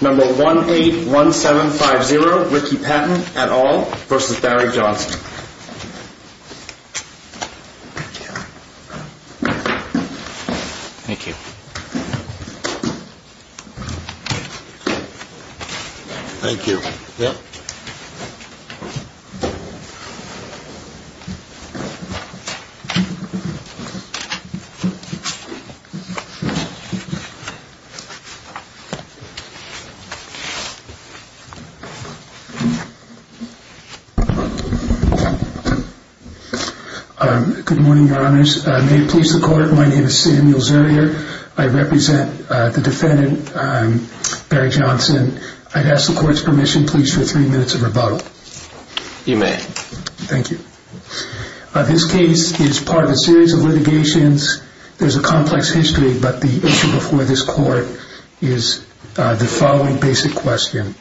Number 181750 Ricky Patton et al. v. Barry Johnson Good morning, your honors. May it please the court, my name is Samuel Zerrier. I represent the defendant, Barry Johnson. I'd ask the court's permission please for three minutes of rebuttal. You may. Thank you. This case is part of a series of litigations. There's a complex history, but the issue before this court is the following basic question.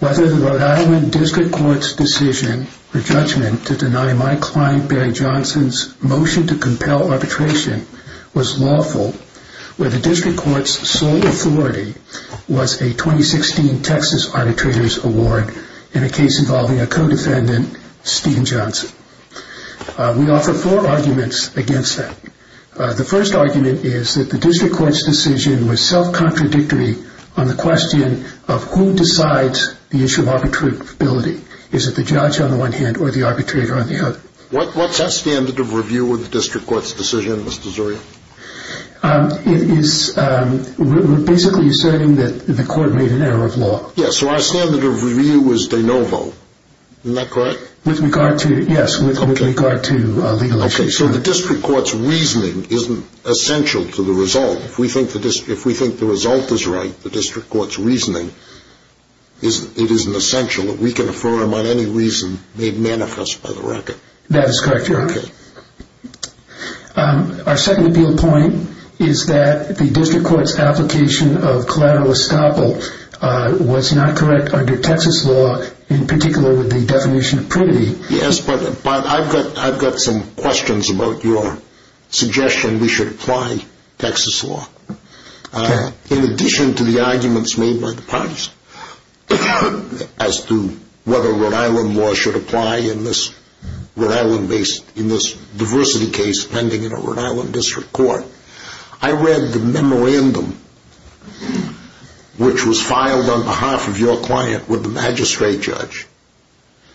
Whether the Rhode Island District Court's decision or judgment to deny my client, Barry Johnson's motion to compel arbitration was lawful, or the District Court's sole authority was a 2016 Texas Arbitrators Award in a case involving a co-defendant, Stephen Johnson. We offer four arguments against that. The first argument is that the District Court's decision was self-contradictory on the question of who decides the issue of arbitrability. Is it the judge on the one hand or the arbitrator on the other? What's our standard of review with the District Court's decision, Mr. Zerrier? It is basically asserting that the court made an error of law. Yes, so our standard of review was de novo. Isn't that correct? With regard to legal issues. So the District Court's reasoning isn't essential to the result. If we think the result is right, the District Court's reasoning, it isn't essential. We can affirm on any reason made manifest by the record. That is correct, Your Honor. Our second point is that the District Court's application of collateral estoppel was not correct under Texas law, in particular with the definition of prudity. Yes, but I've got some questions about your suggestion we should apply Texas law. In addition to the arguments made by the parties as to whether Rhode Island law should apply in this diversity case pending in a Rhode Island District Court, I read the memorandum which was filed on behalf of your client with the magistrate judge.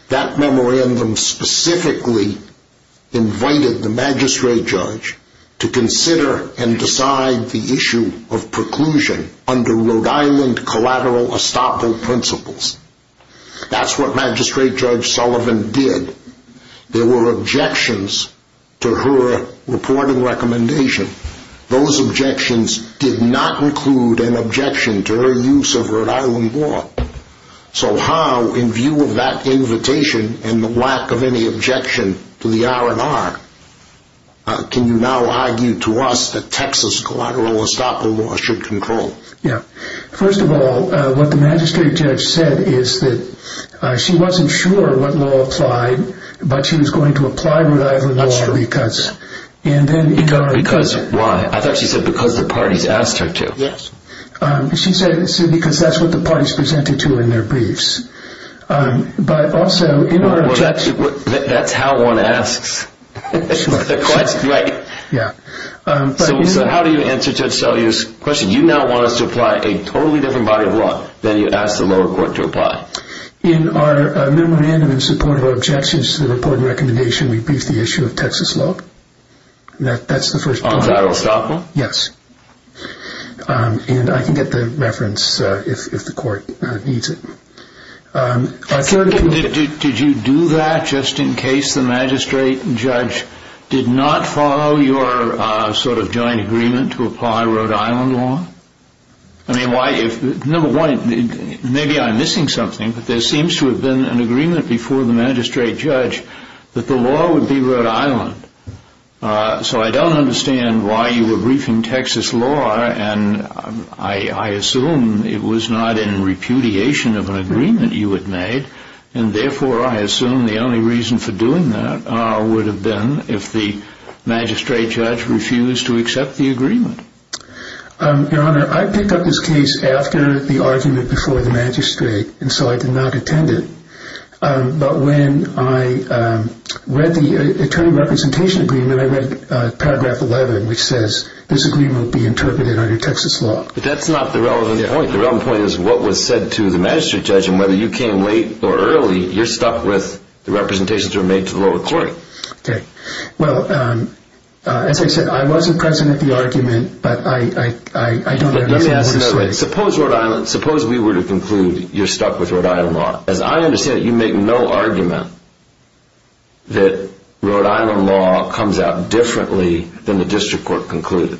That memorandum specifically invited the magistrate judge to consider and decide the issue of preclusion under Rhode Island collateral estoppel principles. That's what Magistrate Judge Sullivan did. There were objections to her reporting recommendation. Those objections did not include an objection to her use of Rhode Island law. So how, in view of that invitation and the lack of any objection to the R&R, can you now argue to us that Texas collateral estoppel law should control? First of all, what the magistrate judge said is that she wasn't sure what law applied, but she was going to apply Rhode Island law. Why? I thought she said because the parties asked her to. Yes. She said because that's what the parties presented to her in their briefs. That's how one asks. So how do you answer Judge Sullivan's question? Do you now want us to apply a totally different body of law than you asked the lower court to apply? In our memorandum in support of our objections to the reporting recommendation, we briefed the issue of Texas law. That's the first point. And I can get the reference if the court needs it. Did you do that just in case the magistrate judge did not follow your sort of joint agreement to apply Rhode Island law? Number one, maybe I'm missing something, but there seems to have been an Rhode Island. So I don't understand why you were briefing Texas law, and I assume it was not in repudiation of an agreement you had made, and therefore I assume the only reason for doing that would have been if the magistrate judge refused to accept the agreement. Your Honor, I picked up this case after the argument before the magistrate, and so I did not attend it. But when I read the attorney representation agreement, I read paragraph 11, which says this agreement will be interpreted under Texas law. But that's not the relevant point. The relevant point is what was said to the magistrate judge, and whether you came late or early, you're stuck with the representations that were made to the lower court. Okay. Well, as I said, I wasn't present at the argument, but I don't have evidence. Suppose we were to conclude you're stuck with Rhode Island law. As I understand it, you make no argument that Rhode Island law comes out differently than the district court concluded.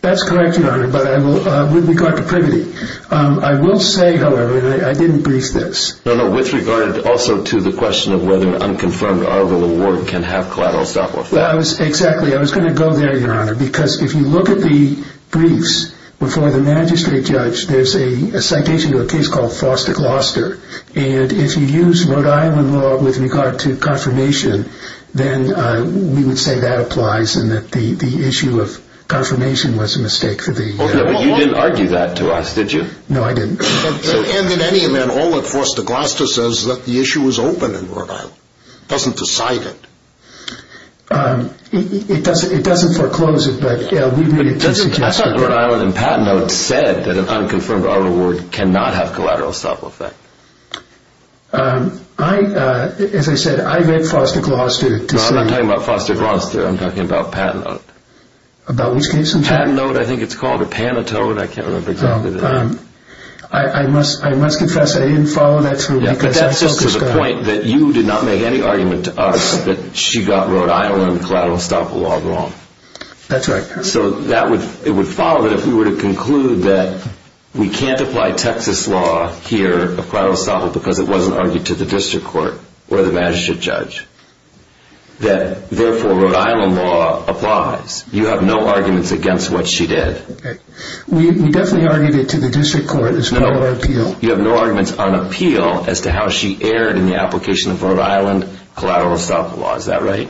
That's correct, Your Honor, but with regard to privity. I will say, however, that I didn't brief this. No, no, with regard also to the question of whether an unconfirmed Arvill award can have collateral stop-loss. Exactly. I was going to go there, Your Honor, because if you look at the briefs before the magistrate judge, there's a citation to a case called Foster Gloucester, and if you use Rhode Island law with regard to confirmation, then we would say that applies and that the issue of confirmation was a mistake. Okay, but you didn't argue that to us, did you? No, I didn't. And in any event, all that Foster Gloucester says is that the issue is open in Rhode Island. It doesn't decide it. It doesn't foreclose it. I thought Rhode Island and Patent Note said that an unconfirmed Arvill award cannot have collateral stop-loss. As I said, I read Foster Gloucester to say... No, I'm not talking about Foster Gloucester, I'm talking about Patent Note. About which case in fact? Patent Note, I think it's called, or Panatone, I can't remember exactly the name. I must confess that I didn't follow that through because I focused on... But that's just to the point that you did not make any argument to us that she got Rhode Island collateral stop-loss law wrong. That's right. So it would follow that if we were to conclude that we can't apply Texas law here of collateral stop-loss because it wasn't argued to the district court or the magistrate judge, that therefore Rhode Island law applies. You have no arguments against what she did. We definitely argued it to the district court as part of our appeal. You have no arguments on appeal as to how she erred in the application of Rhode Island collateral stop-loss. Is that right?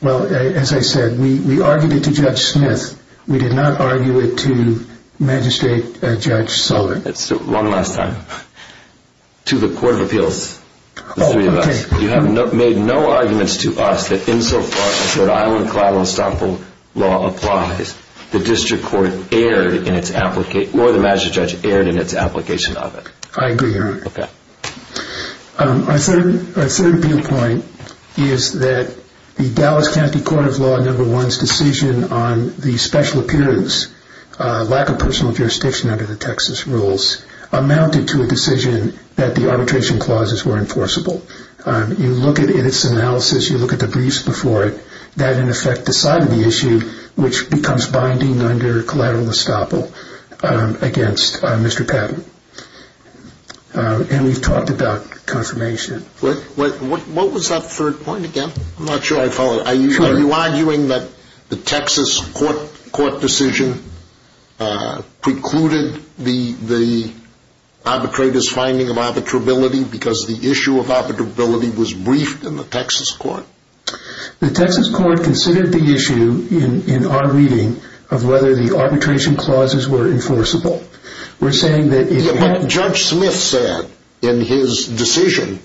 Well, as I said, we argued it to Judge Smith. We did not argue it to Magistrate Judge Sullivan. One last time. To the Court of Appeals. You have made no arguments to us that insofar as Rhode Island collateral stop-loss law applies, the district court erred in its application, or the magistrate judge erred in its application of it. I agree, Your Honor. Okay. Our third point is that the Dallas County Court of Law No. 1's decision on the special appearance, lack of personal jurisdiction under the Texas rules, amounted to a decision that the arbitration clauses were enforceable. You look at its analysis, you look at the briefs before it, that in effect decided the issue, which becomes binding under collateral estoppel against Mr. Patton. And we've talked about confirmation. What was that third point again? I'm not sure I followed. Are you arguing that the Texas court decision precluded the arbitrator's finding of arbitrability because the issue of arbitrability was briefed in the Texas court? The Texas court considered the issue in our reading of whether the arbitration clauses were enforceable. We're saying that it... What Judge Smith said in his decision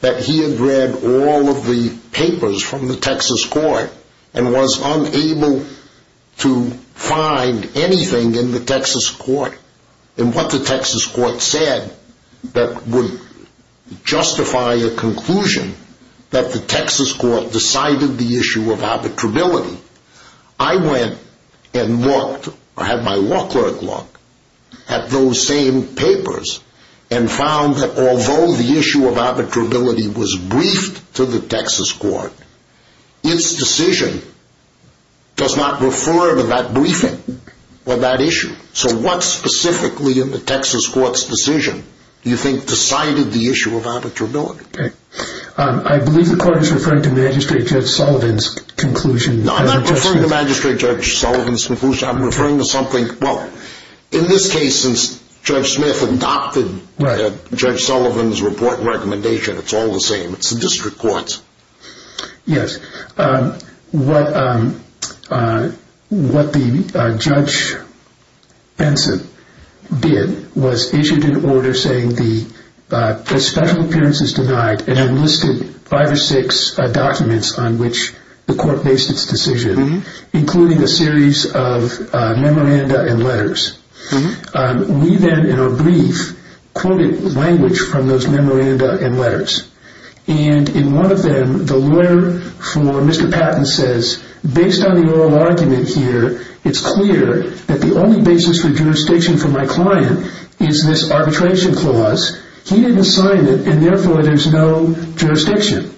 that he had read all of the papers from the Texas court and was unable to find anything in the Texas court, and what the Texas court said that would justify a conclusion that the Texas court decided the issue of arbitrability I went and looked, or had my law clerk look, at those same papers and found that although the issue of arbitrability was briefed to the Texas court, its decision does not refer to that briefing or that issue. So what specifically in the Texas court's decision do you think decided the issue of arbitrability? I believe the court is referring to Magistrate Judge Sullivan's conclusion. No, I'm not referring to Magistrate Judge Sullivan's conclusion. I'm referring to something... Well, in this case, since Judge Smith adopted Judge Sullivan's report and recommendation, it's all the same. It's the district court's. Yes. What Judge Benson did was issued an order saying that special appearance is denied and enlisted five or six documents on which the court based its decision, including a series of memoranda and letters. We then, in our brief, quoted language from those memoranda and letters. In one of them, the lawyer for Mr. Patton says, based on the oral argument here, it's clear that the only basis for jurisdiction for my client is this arbitration clause. He didn't sign it and therefore there's no jurisdiction.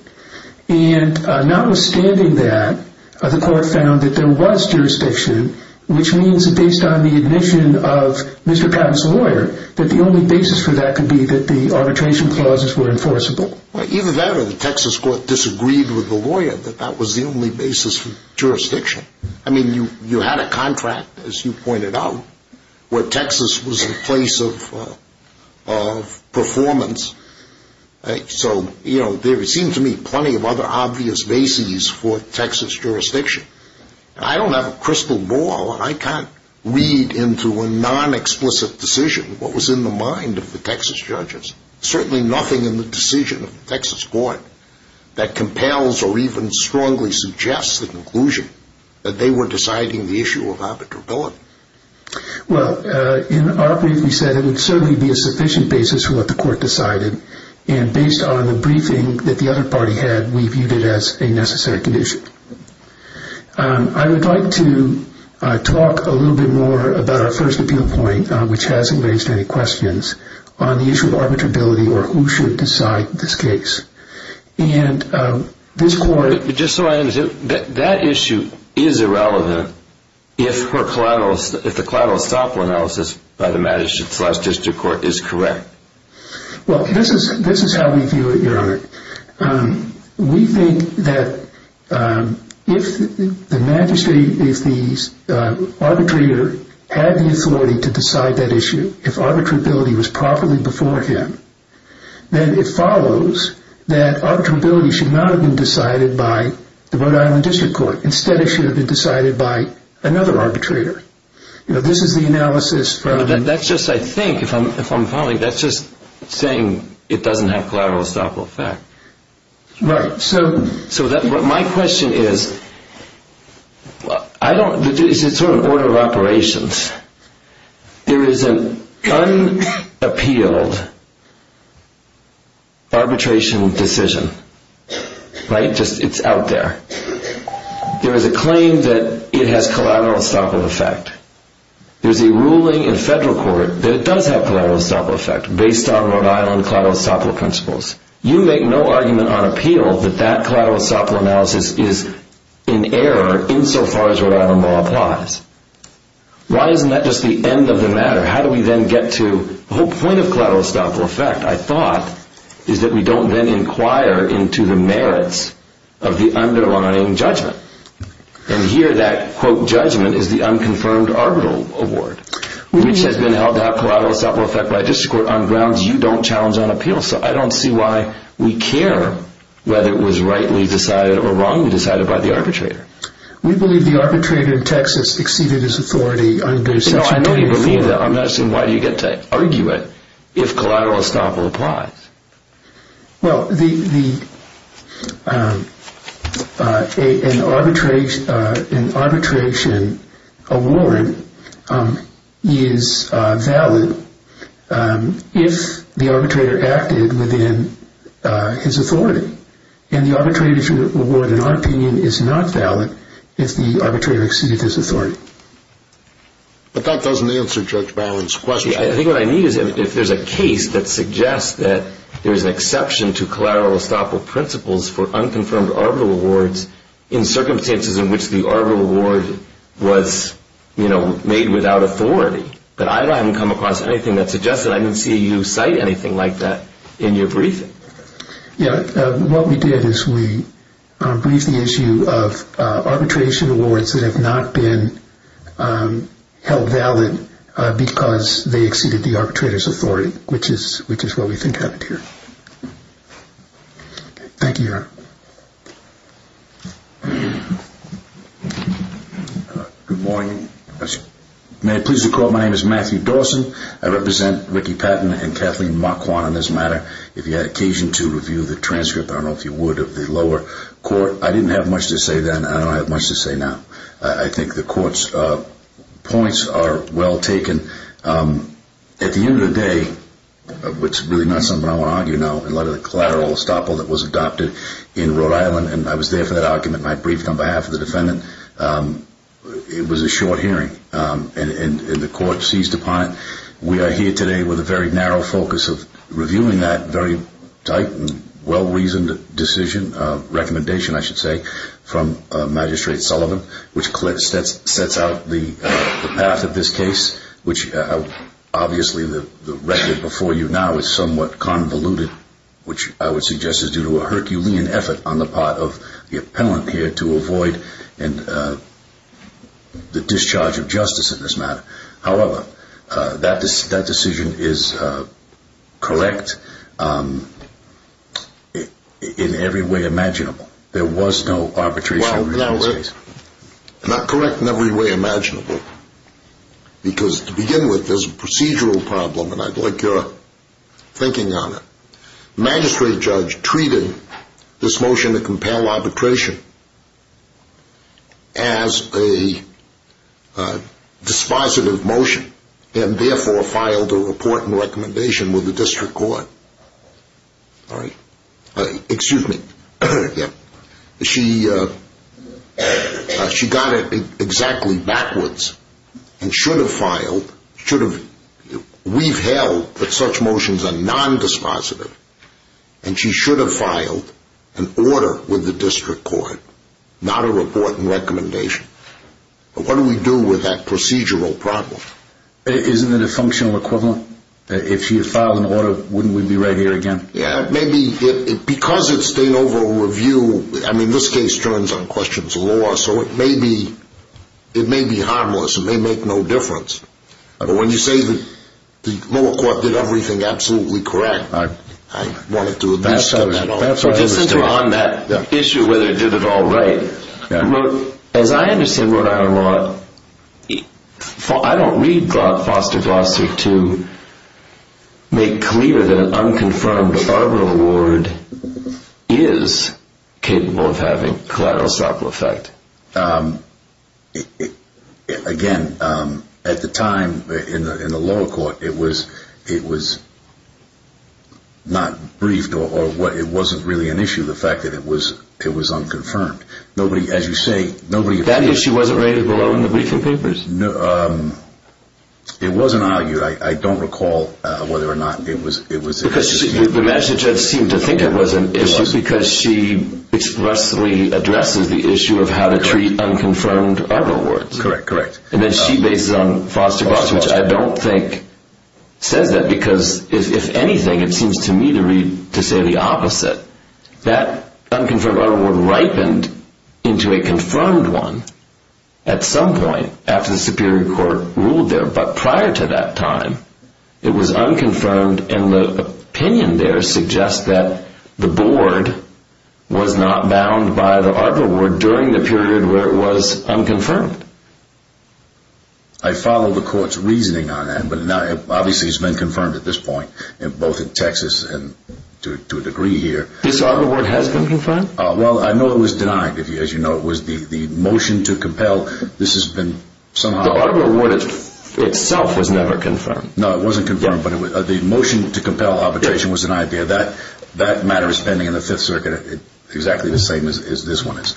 Notwithstanding that, the court found that there was jurisdiction, which means that based on the admission of Mr. Patton's lawyer, that the only basis for that could be that the arbitration clauses were enforceable. Either that or the Texas court disagreed with the lawyer that that was the only basis for jurisdiction. I mean, you had a contract, as you pointed out, where Texas was in place of performance. So, you know, there seemed to me plenty of other obvious bases for Texas jurisdiction. I don't have a crystal ball and I can't read into a non-explicit decision what was in the mind of the Texas judges. Certainly nothing in the decision of the Texas court that compels or even strongly suggests the conclusion that they were deciding the case. There would certainly be a sufficient basis for what the court decided and based on the briefing that the other party had, we viewed it as a necessary condition. I would like to talk a little bit more about our first appeal point, which hasn't raised any questions, on the issue of arbitrability or who should decide this case. But just so I understand, that issue is irrelevant if the collateral estoppel analysis by the magistrate's last district court is correct. Well, this is how we view it, Your Honor. We think that if the magistrate, if the arbitrator had the authority to decide that issue, if arbitrability was properly before him, then it follows that arbitrability should not have been decided by the Rhode Island District Court. Instead, it should have been decided by another arbitrator. This is the analysis from the... That's just, I think, if I'm following, that's just saying it doesn't have collateral estoppel effect. Right. So, my question is, I don't, this is sort of an order of operations. There is an unappealed arbitration decision. Right? Just, it's out there. There is a claim that it has collateral estoppel effect. There's a ruling in federal court that it does have collateral estoppel effect based on Rhode Island collateral estoppel principles. You make no argument on appeal that that collateral estoppel analysis is in error insofar as Rhode Island law applies. Why isn't that just the end of the matter? How do we then get to the whole point of collateral estoppel effect, I thought, is that we don't then inquire into the merits of the underlying judgment. And here that, quote, judgment is the unconfirmed arbitral award, which has been held to have collateral estoppel effect by a district court on grounds you don't challenge on appeal. So, I don't see why we care whether it was rightly decided or wrongly decided by the arbitrator. We believe the arbitrator in Texas exceeded his authority under Section 284. No, I know you believe that. I'm not asking why you get to argue it if collateral estoppel applies. Well, the, an arbitration award is valid if the arbitrator acted within his authority. And the arbitration award, in our opinion, is not valid if the arbitrator exceeded his authority. But that doesn't answer Judge Bowen's question. See, I think what I need is if there's a case that suggests that there's an exception to collateral estoppel principles for unconfirmed arbitral awards in circumstances in which the arbitral award was, you know, made without authority. But I haven't come across anything that suggests that. I didn't see you cite anything like that in your briefing. Yeah, what we did is we briefed the issue of arbitration awards that have not been held valid because they exceeded the arbitrator's authority, which is what we think happened here. Thank you, Your Honor. Good morning. May I please recall my name is Matthew Dawson. I represent Ricky Patton and Kathleen Marquand on this matter. If you had occasion to review the transcript, I don't know if you would, of the lower court. I didn't have much to say then. I don't have much to say now. I think the court's points are well taken. At the end of the day, which is really not something I want to argue now, a lot of the collateral estoppel that was adopted in Rhode Island, and I was there for that argument, and I briefed on behalf of the defendant. It was a short hearing, and the court seized upon it. We are here today with a very narrow focus of reviewing that very tight and well-reasoned decision, recommendation I should say, from Magistrate Sullivan, which sets out the path of this case, which obviously the record before you now is somewhat convoluted, which I would suggest is due to a Herculean effort on the part of the appellant here to avoid the discharge of justice in this matter. However, that decision is correct in every way imaginable. There was no arbitration in this case. Well, not correct in every way imaginable, because to begin with, there's a procedural problem, and I'd like your thinking on it. The magistrate judge treated this motion to and therefore filed a report and recommendation with the district court. She got it exactly backwards and should have filed, we've held that such motions are nondispositive, and she should have filed an order with the district court, not a report and recommendation. But what do we do with that procedural problem? Isn't it a functional equivalent? If she had filed an order, wouldn't we be right here again? Yeah, maybe, because it's been over a review, I mean, this case turns on questions of law, so it may be harmless, it may make no difference. But when you say that the lower court did everything absolutely correct, I wanted to at least get it all right. Just since you're on that issue whether it did it all right, as I understand Rhode Island law, I don't read Foster Glossary to make clear that an unconfirmed arbitral award is capable of having collateral side effect. Again, at the time in the lower court, it was not briefed or it wasn't really an issue, the fact that it was unconfirmed. That issue wasn't rated below in the briefing papers? It wasn't argued, I don't recall whether or not it was. The magistrate judge seemed to think it was an issue because she expressly addresses the issue of how to treat unconfirmed arbitral awards. Correct, correct. And then she bases it on Foster Glossary, which I don't think says that because, if anything, it seems to me to read to say the opposite. That unconfirmed arbitral award ripened into a confirmed one at some point after the superior court ruled there. But prior to that time, it was unconfirmed and the opinion there suggests that the board was not bound by the arbitral award during the period where it was unconfirmed. I follow the court's reasoning on that, but obviously it's been confirmed at this point, both in Texas and to a degree here. This arbitral award has been confirmed? Well, I know it was denied, as you know, it was the motion to compel, this has been somehow... The arbitral award itself was never confirmed. No, it wasn't confirmed, but the motion to compel arbitration was an idea. That matter was pending in the Fifth Circuit, exactly the same as this one is.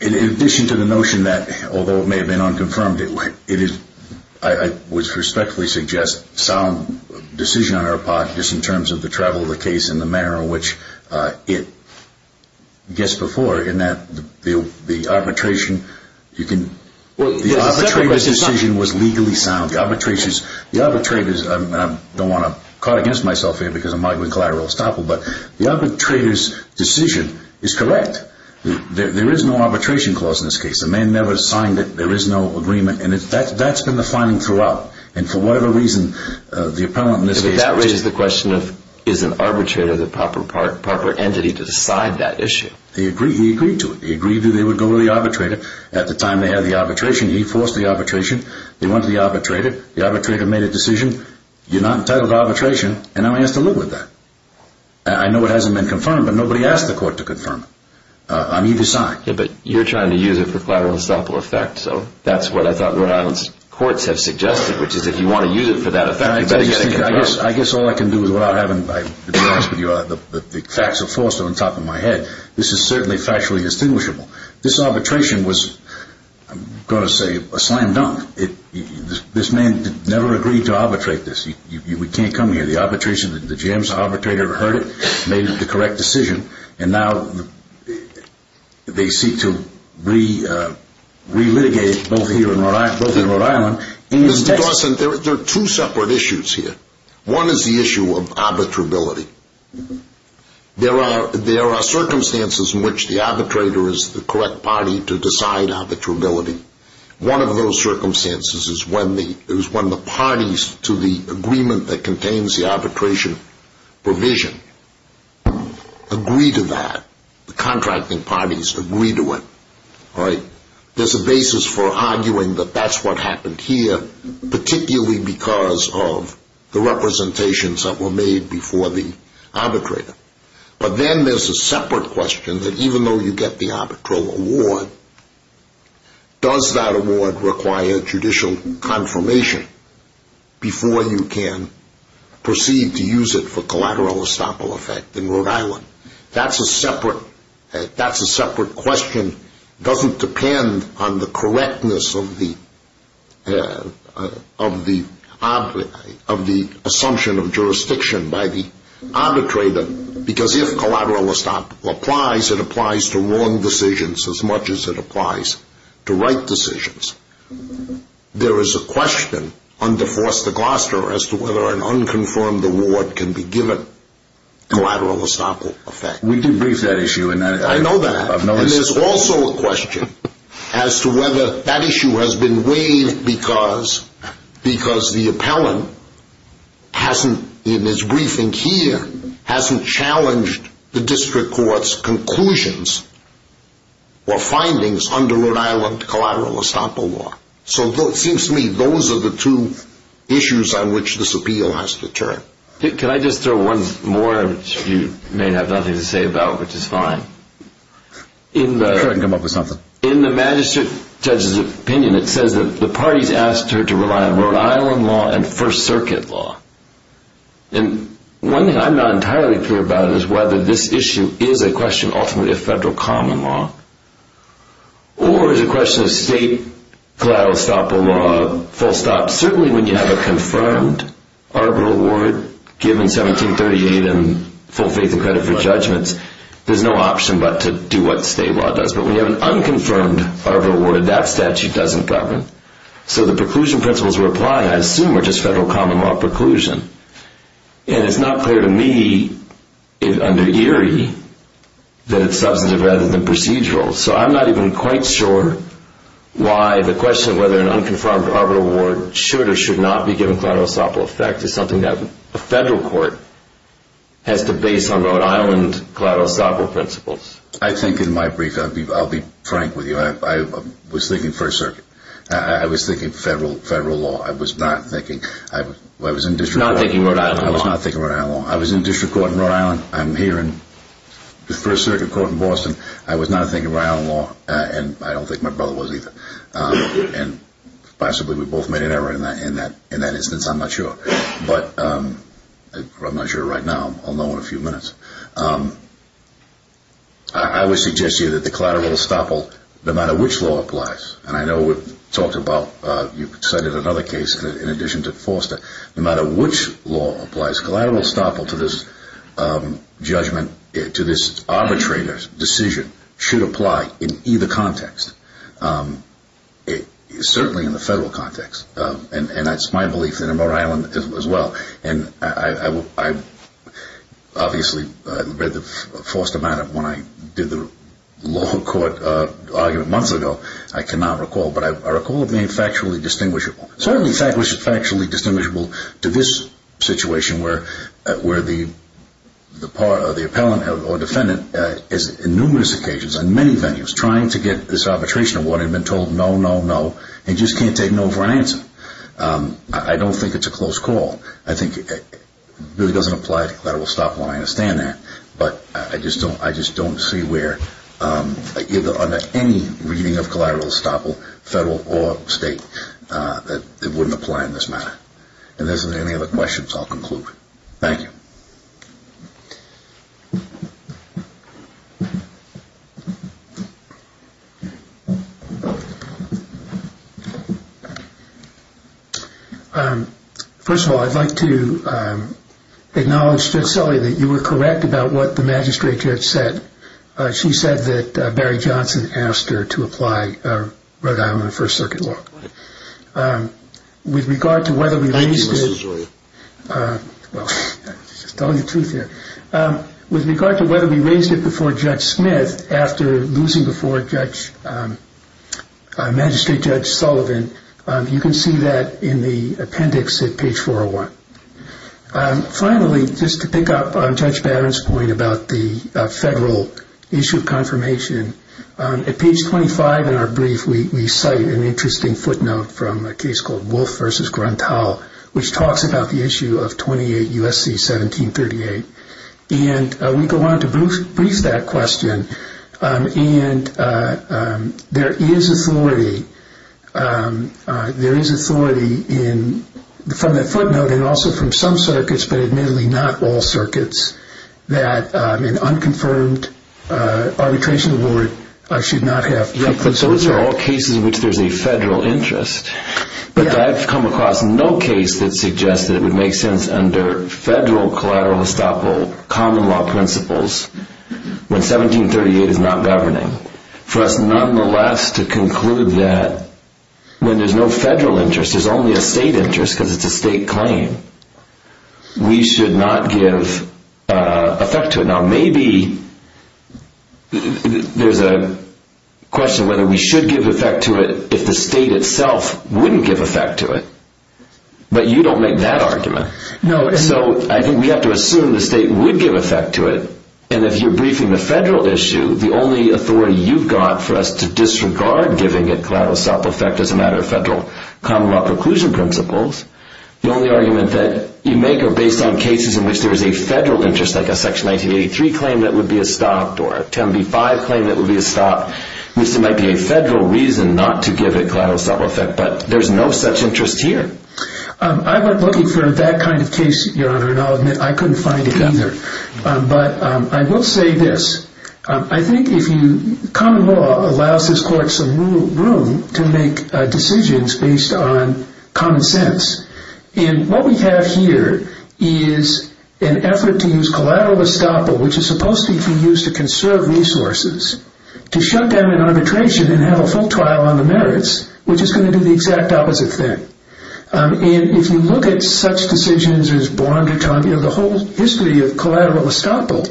In addition to the notion that, although it may have been unconfirmed, I would respectfully suggest sound decision on our part, just in terms of the travel of the case and the manner in which it gets before, in that the arbitration, the arbitrator's decision was legally sound. The arbitrator's, and I don't want to cut against myself here because I'm arguing collateral estoppel, but the arbitrator's decision is correct. There is no arbitration clause in this case. The man never signed it, there is no agreement, and that's been the finding throughout. And for whatever reason, the appellant in this case... But that raises the question of, is an arbitrator the proper entity to decide that issue? He agreed to it. He agreed that they would go to the arbitrator. At the time they had the arbitration, he forced the arbitration. They went to the arbitrator. The arbitrator made a decision. You're not entitled to arbitration, and now he has to live with that. I know it hasn't been confirmed, but nobody asked the court to confirm it. I'm either side. Yeah, but you're trying to use it for collateral estoppel effect, so that's what I thought Rhode Island's courts have suggested, which is if you want to use it for that effect, you better get it confirmed. I guess all I can do is, without having to be honest with you, the facts are forced on the top of my head. This is certainly factually distinguishable. This arbitration was, I'm going to say, a slam dunk. This man never agreed to arbitrate this. We can't come here. The arbitration, the GM's arbitrator heard it, made the correct decision, and now they seek to re-litigate both here in Rhode Island and in Texas. Mr. Dawson, there are two separate issues here. One is the issue of arbitrability. There are circumstances in which the arbitrator is the correct party to decide arbitrability. One of those circumstances is when the parties to the agreement that contains the arbitration provision agree to that. The contracting parties agree to it. There's a basis for arguing that that's what happened here, particularly because of the representations that were made before the arbitrator. But then there's a separate question that even though you get the arbitral award, does that award require judicial confirmation before you can proceed to use it for collateral estoppel effect in Rhode Island? That's a separate question. It doesn't depend on the assumption of jurisdiction by the arbitrator, because if collateral estoppel applies, it applies to wrong decisions as much as it applies to right decisions. There is a question under Forster Gloucester as to whether an unconfirmed award can be given collateral estoppel effect. We did brief that issue. I know that. And there's also a question as to whether that issue has been weighed because the appellant in his briefing here hasn't challenged the district court's conclusions or findings under Rhode Island collateral estoppel law. So it seems to me those are the two issues on which this appeal has to turn. Can I just throw one more, which you may have nothing to say about, which is fine? I'm sure I can come up with something. In the magistrate judge's opinion, it says that the parties asked her to rely on Rhode Island law and First Circuit law. And one thing I'm not entirely clear about is whether this issue is a question ultimately of federal common law or is a question of state collateral estoppel law, full stop. Certainly when you have a confirmed arbitral award given 1738 and full faith and credit for judgments, there's no option but to do what state law does. But when you have an unconfirmed arbitral award, that statute doesn't govern. So the preclusion principles we're applying, I assume, are just federal common law preclusion. And it's not clear to me under Erie that it's substantive rather than procedural. So I'm not even quite sure why the question of whether an unconfirmed arbitral award should or should not be given collateral estoppel effect is something that a federal court has to base on Rhode Island collateral estoppel principles. I think in my brief, I'll be frank with you. I was thinking First Circuit. I was thinking federal law. I was not thinking... Not thinking Rhode Island law. I was not thinking Rhode Island law. I was in district court in Rhode Island. I'm here in First Circuit court in Boston. I was not thinking Rhode Island law. And I don't think my brother was either. And possibly we both made an error in that instance. I'm not sure. But I'm not sure right now. I'll know in a few minutes. I would suggest to you that the collateral estoppel, no matter which law applies, and I know we've talked about, you cited another case in addition to Forster. No matter which law applies, collateral estoppel to this judgment, to this arbitrator's decision, should apply in either context. Certainly in the federal context. And that's my belief in Rhode Island as well. And I obviously read the Forster matter when I did the lower court argument months ago. I cannot recall. But I recall it being factually distinguishable. Certainly factually distinguishable to this situation where the part of the appellant or defendant is numerous occasions in many venues trying to get this arbitration award and being told no, no, no, and just can't take no for an answer. I don't think it's a close call. I think it really doesn't apply to collateral estoppel. I understand that. But I just don't see where either under any reading of collateral estoppel, federal or state, that it wouldn't apply in this matter. And if there's any other questions, I'll conclude. Thank you. First of all, I'd like to acknowledge Judge Sully that you were correct about what the magistrate judge said. She said that Barry Johnson asked her to apply Rhode Island First Circuit law. With regard to whether we raised it... Thank you, Mr. Joy. Well, just telling the truth here. With regard to whether we raised it before Judge Smith after losing before magistrate Judge Sullivan, you can see that in the appendix at page 401. Finally, just to pick up on Judge Barron's point about the federal issue of confirmation, at page 25 in our brief we cite an interesting footnote from a case called Wolf v. Gruntal which talks about the issue of 28 U.S.C. 1738. And we go on to brief that question. And there is authority from that footnote and also from some circuits, but admittedly not all circuits, that an unconfirmed arbitration award should not have... Those are all cases in which there is a federal interest, but I've come across no case that suggests that it would make sense under federal collateral estoppel common law principles when 1738 is not governing for us nonetheless to conclude that when there's no federal interest, there's only a state interest because it's a state claim, we should not give effect to it. Now maybe there's a question whether we should give effect to it if the state itself wouldn't give effect to it, but you don't make that argument. So I think we have to assume the state would give effect to it, and if you're briefing the federal issue, the only authority you've got for us to disregard giving it collateral estoppel effect as a matter of federal common law preclusion principles, the only argument that you make are based on cases in which there is a federal interest, like a Section 1983 claim that would be estopped or a 10b-5 claim that would be estopped, which there might be a federal reason not to give it collateral estoppel effect, but there's no such interest here. I went looking for that kind of case, Your Honor, and I'll admit I couldn't find it either. But I will say this. I think if you... Common law allows this Court some room to make decisions based on common sense, and what we have here is an effort to use collateral estoppel, which is supposed to be used to conserve resources, to shut down an arbitration and have a full trial on the merits, which is going to do the exact opposite thing. And if you look at such decisions as Bond or Trump, the whole history of collateral estoppel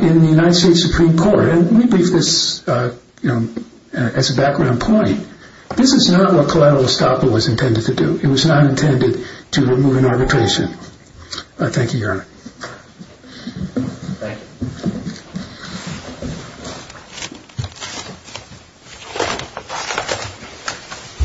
in the United States Supreme Court, and let me brief this as a background point, this is not what collateral estoppel was intended to do. It was not intended to remove an arbitration. Thank you, Your Honor. Thank you.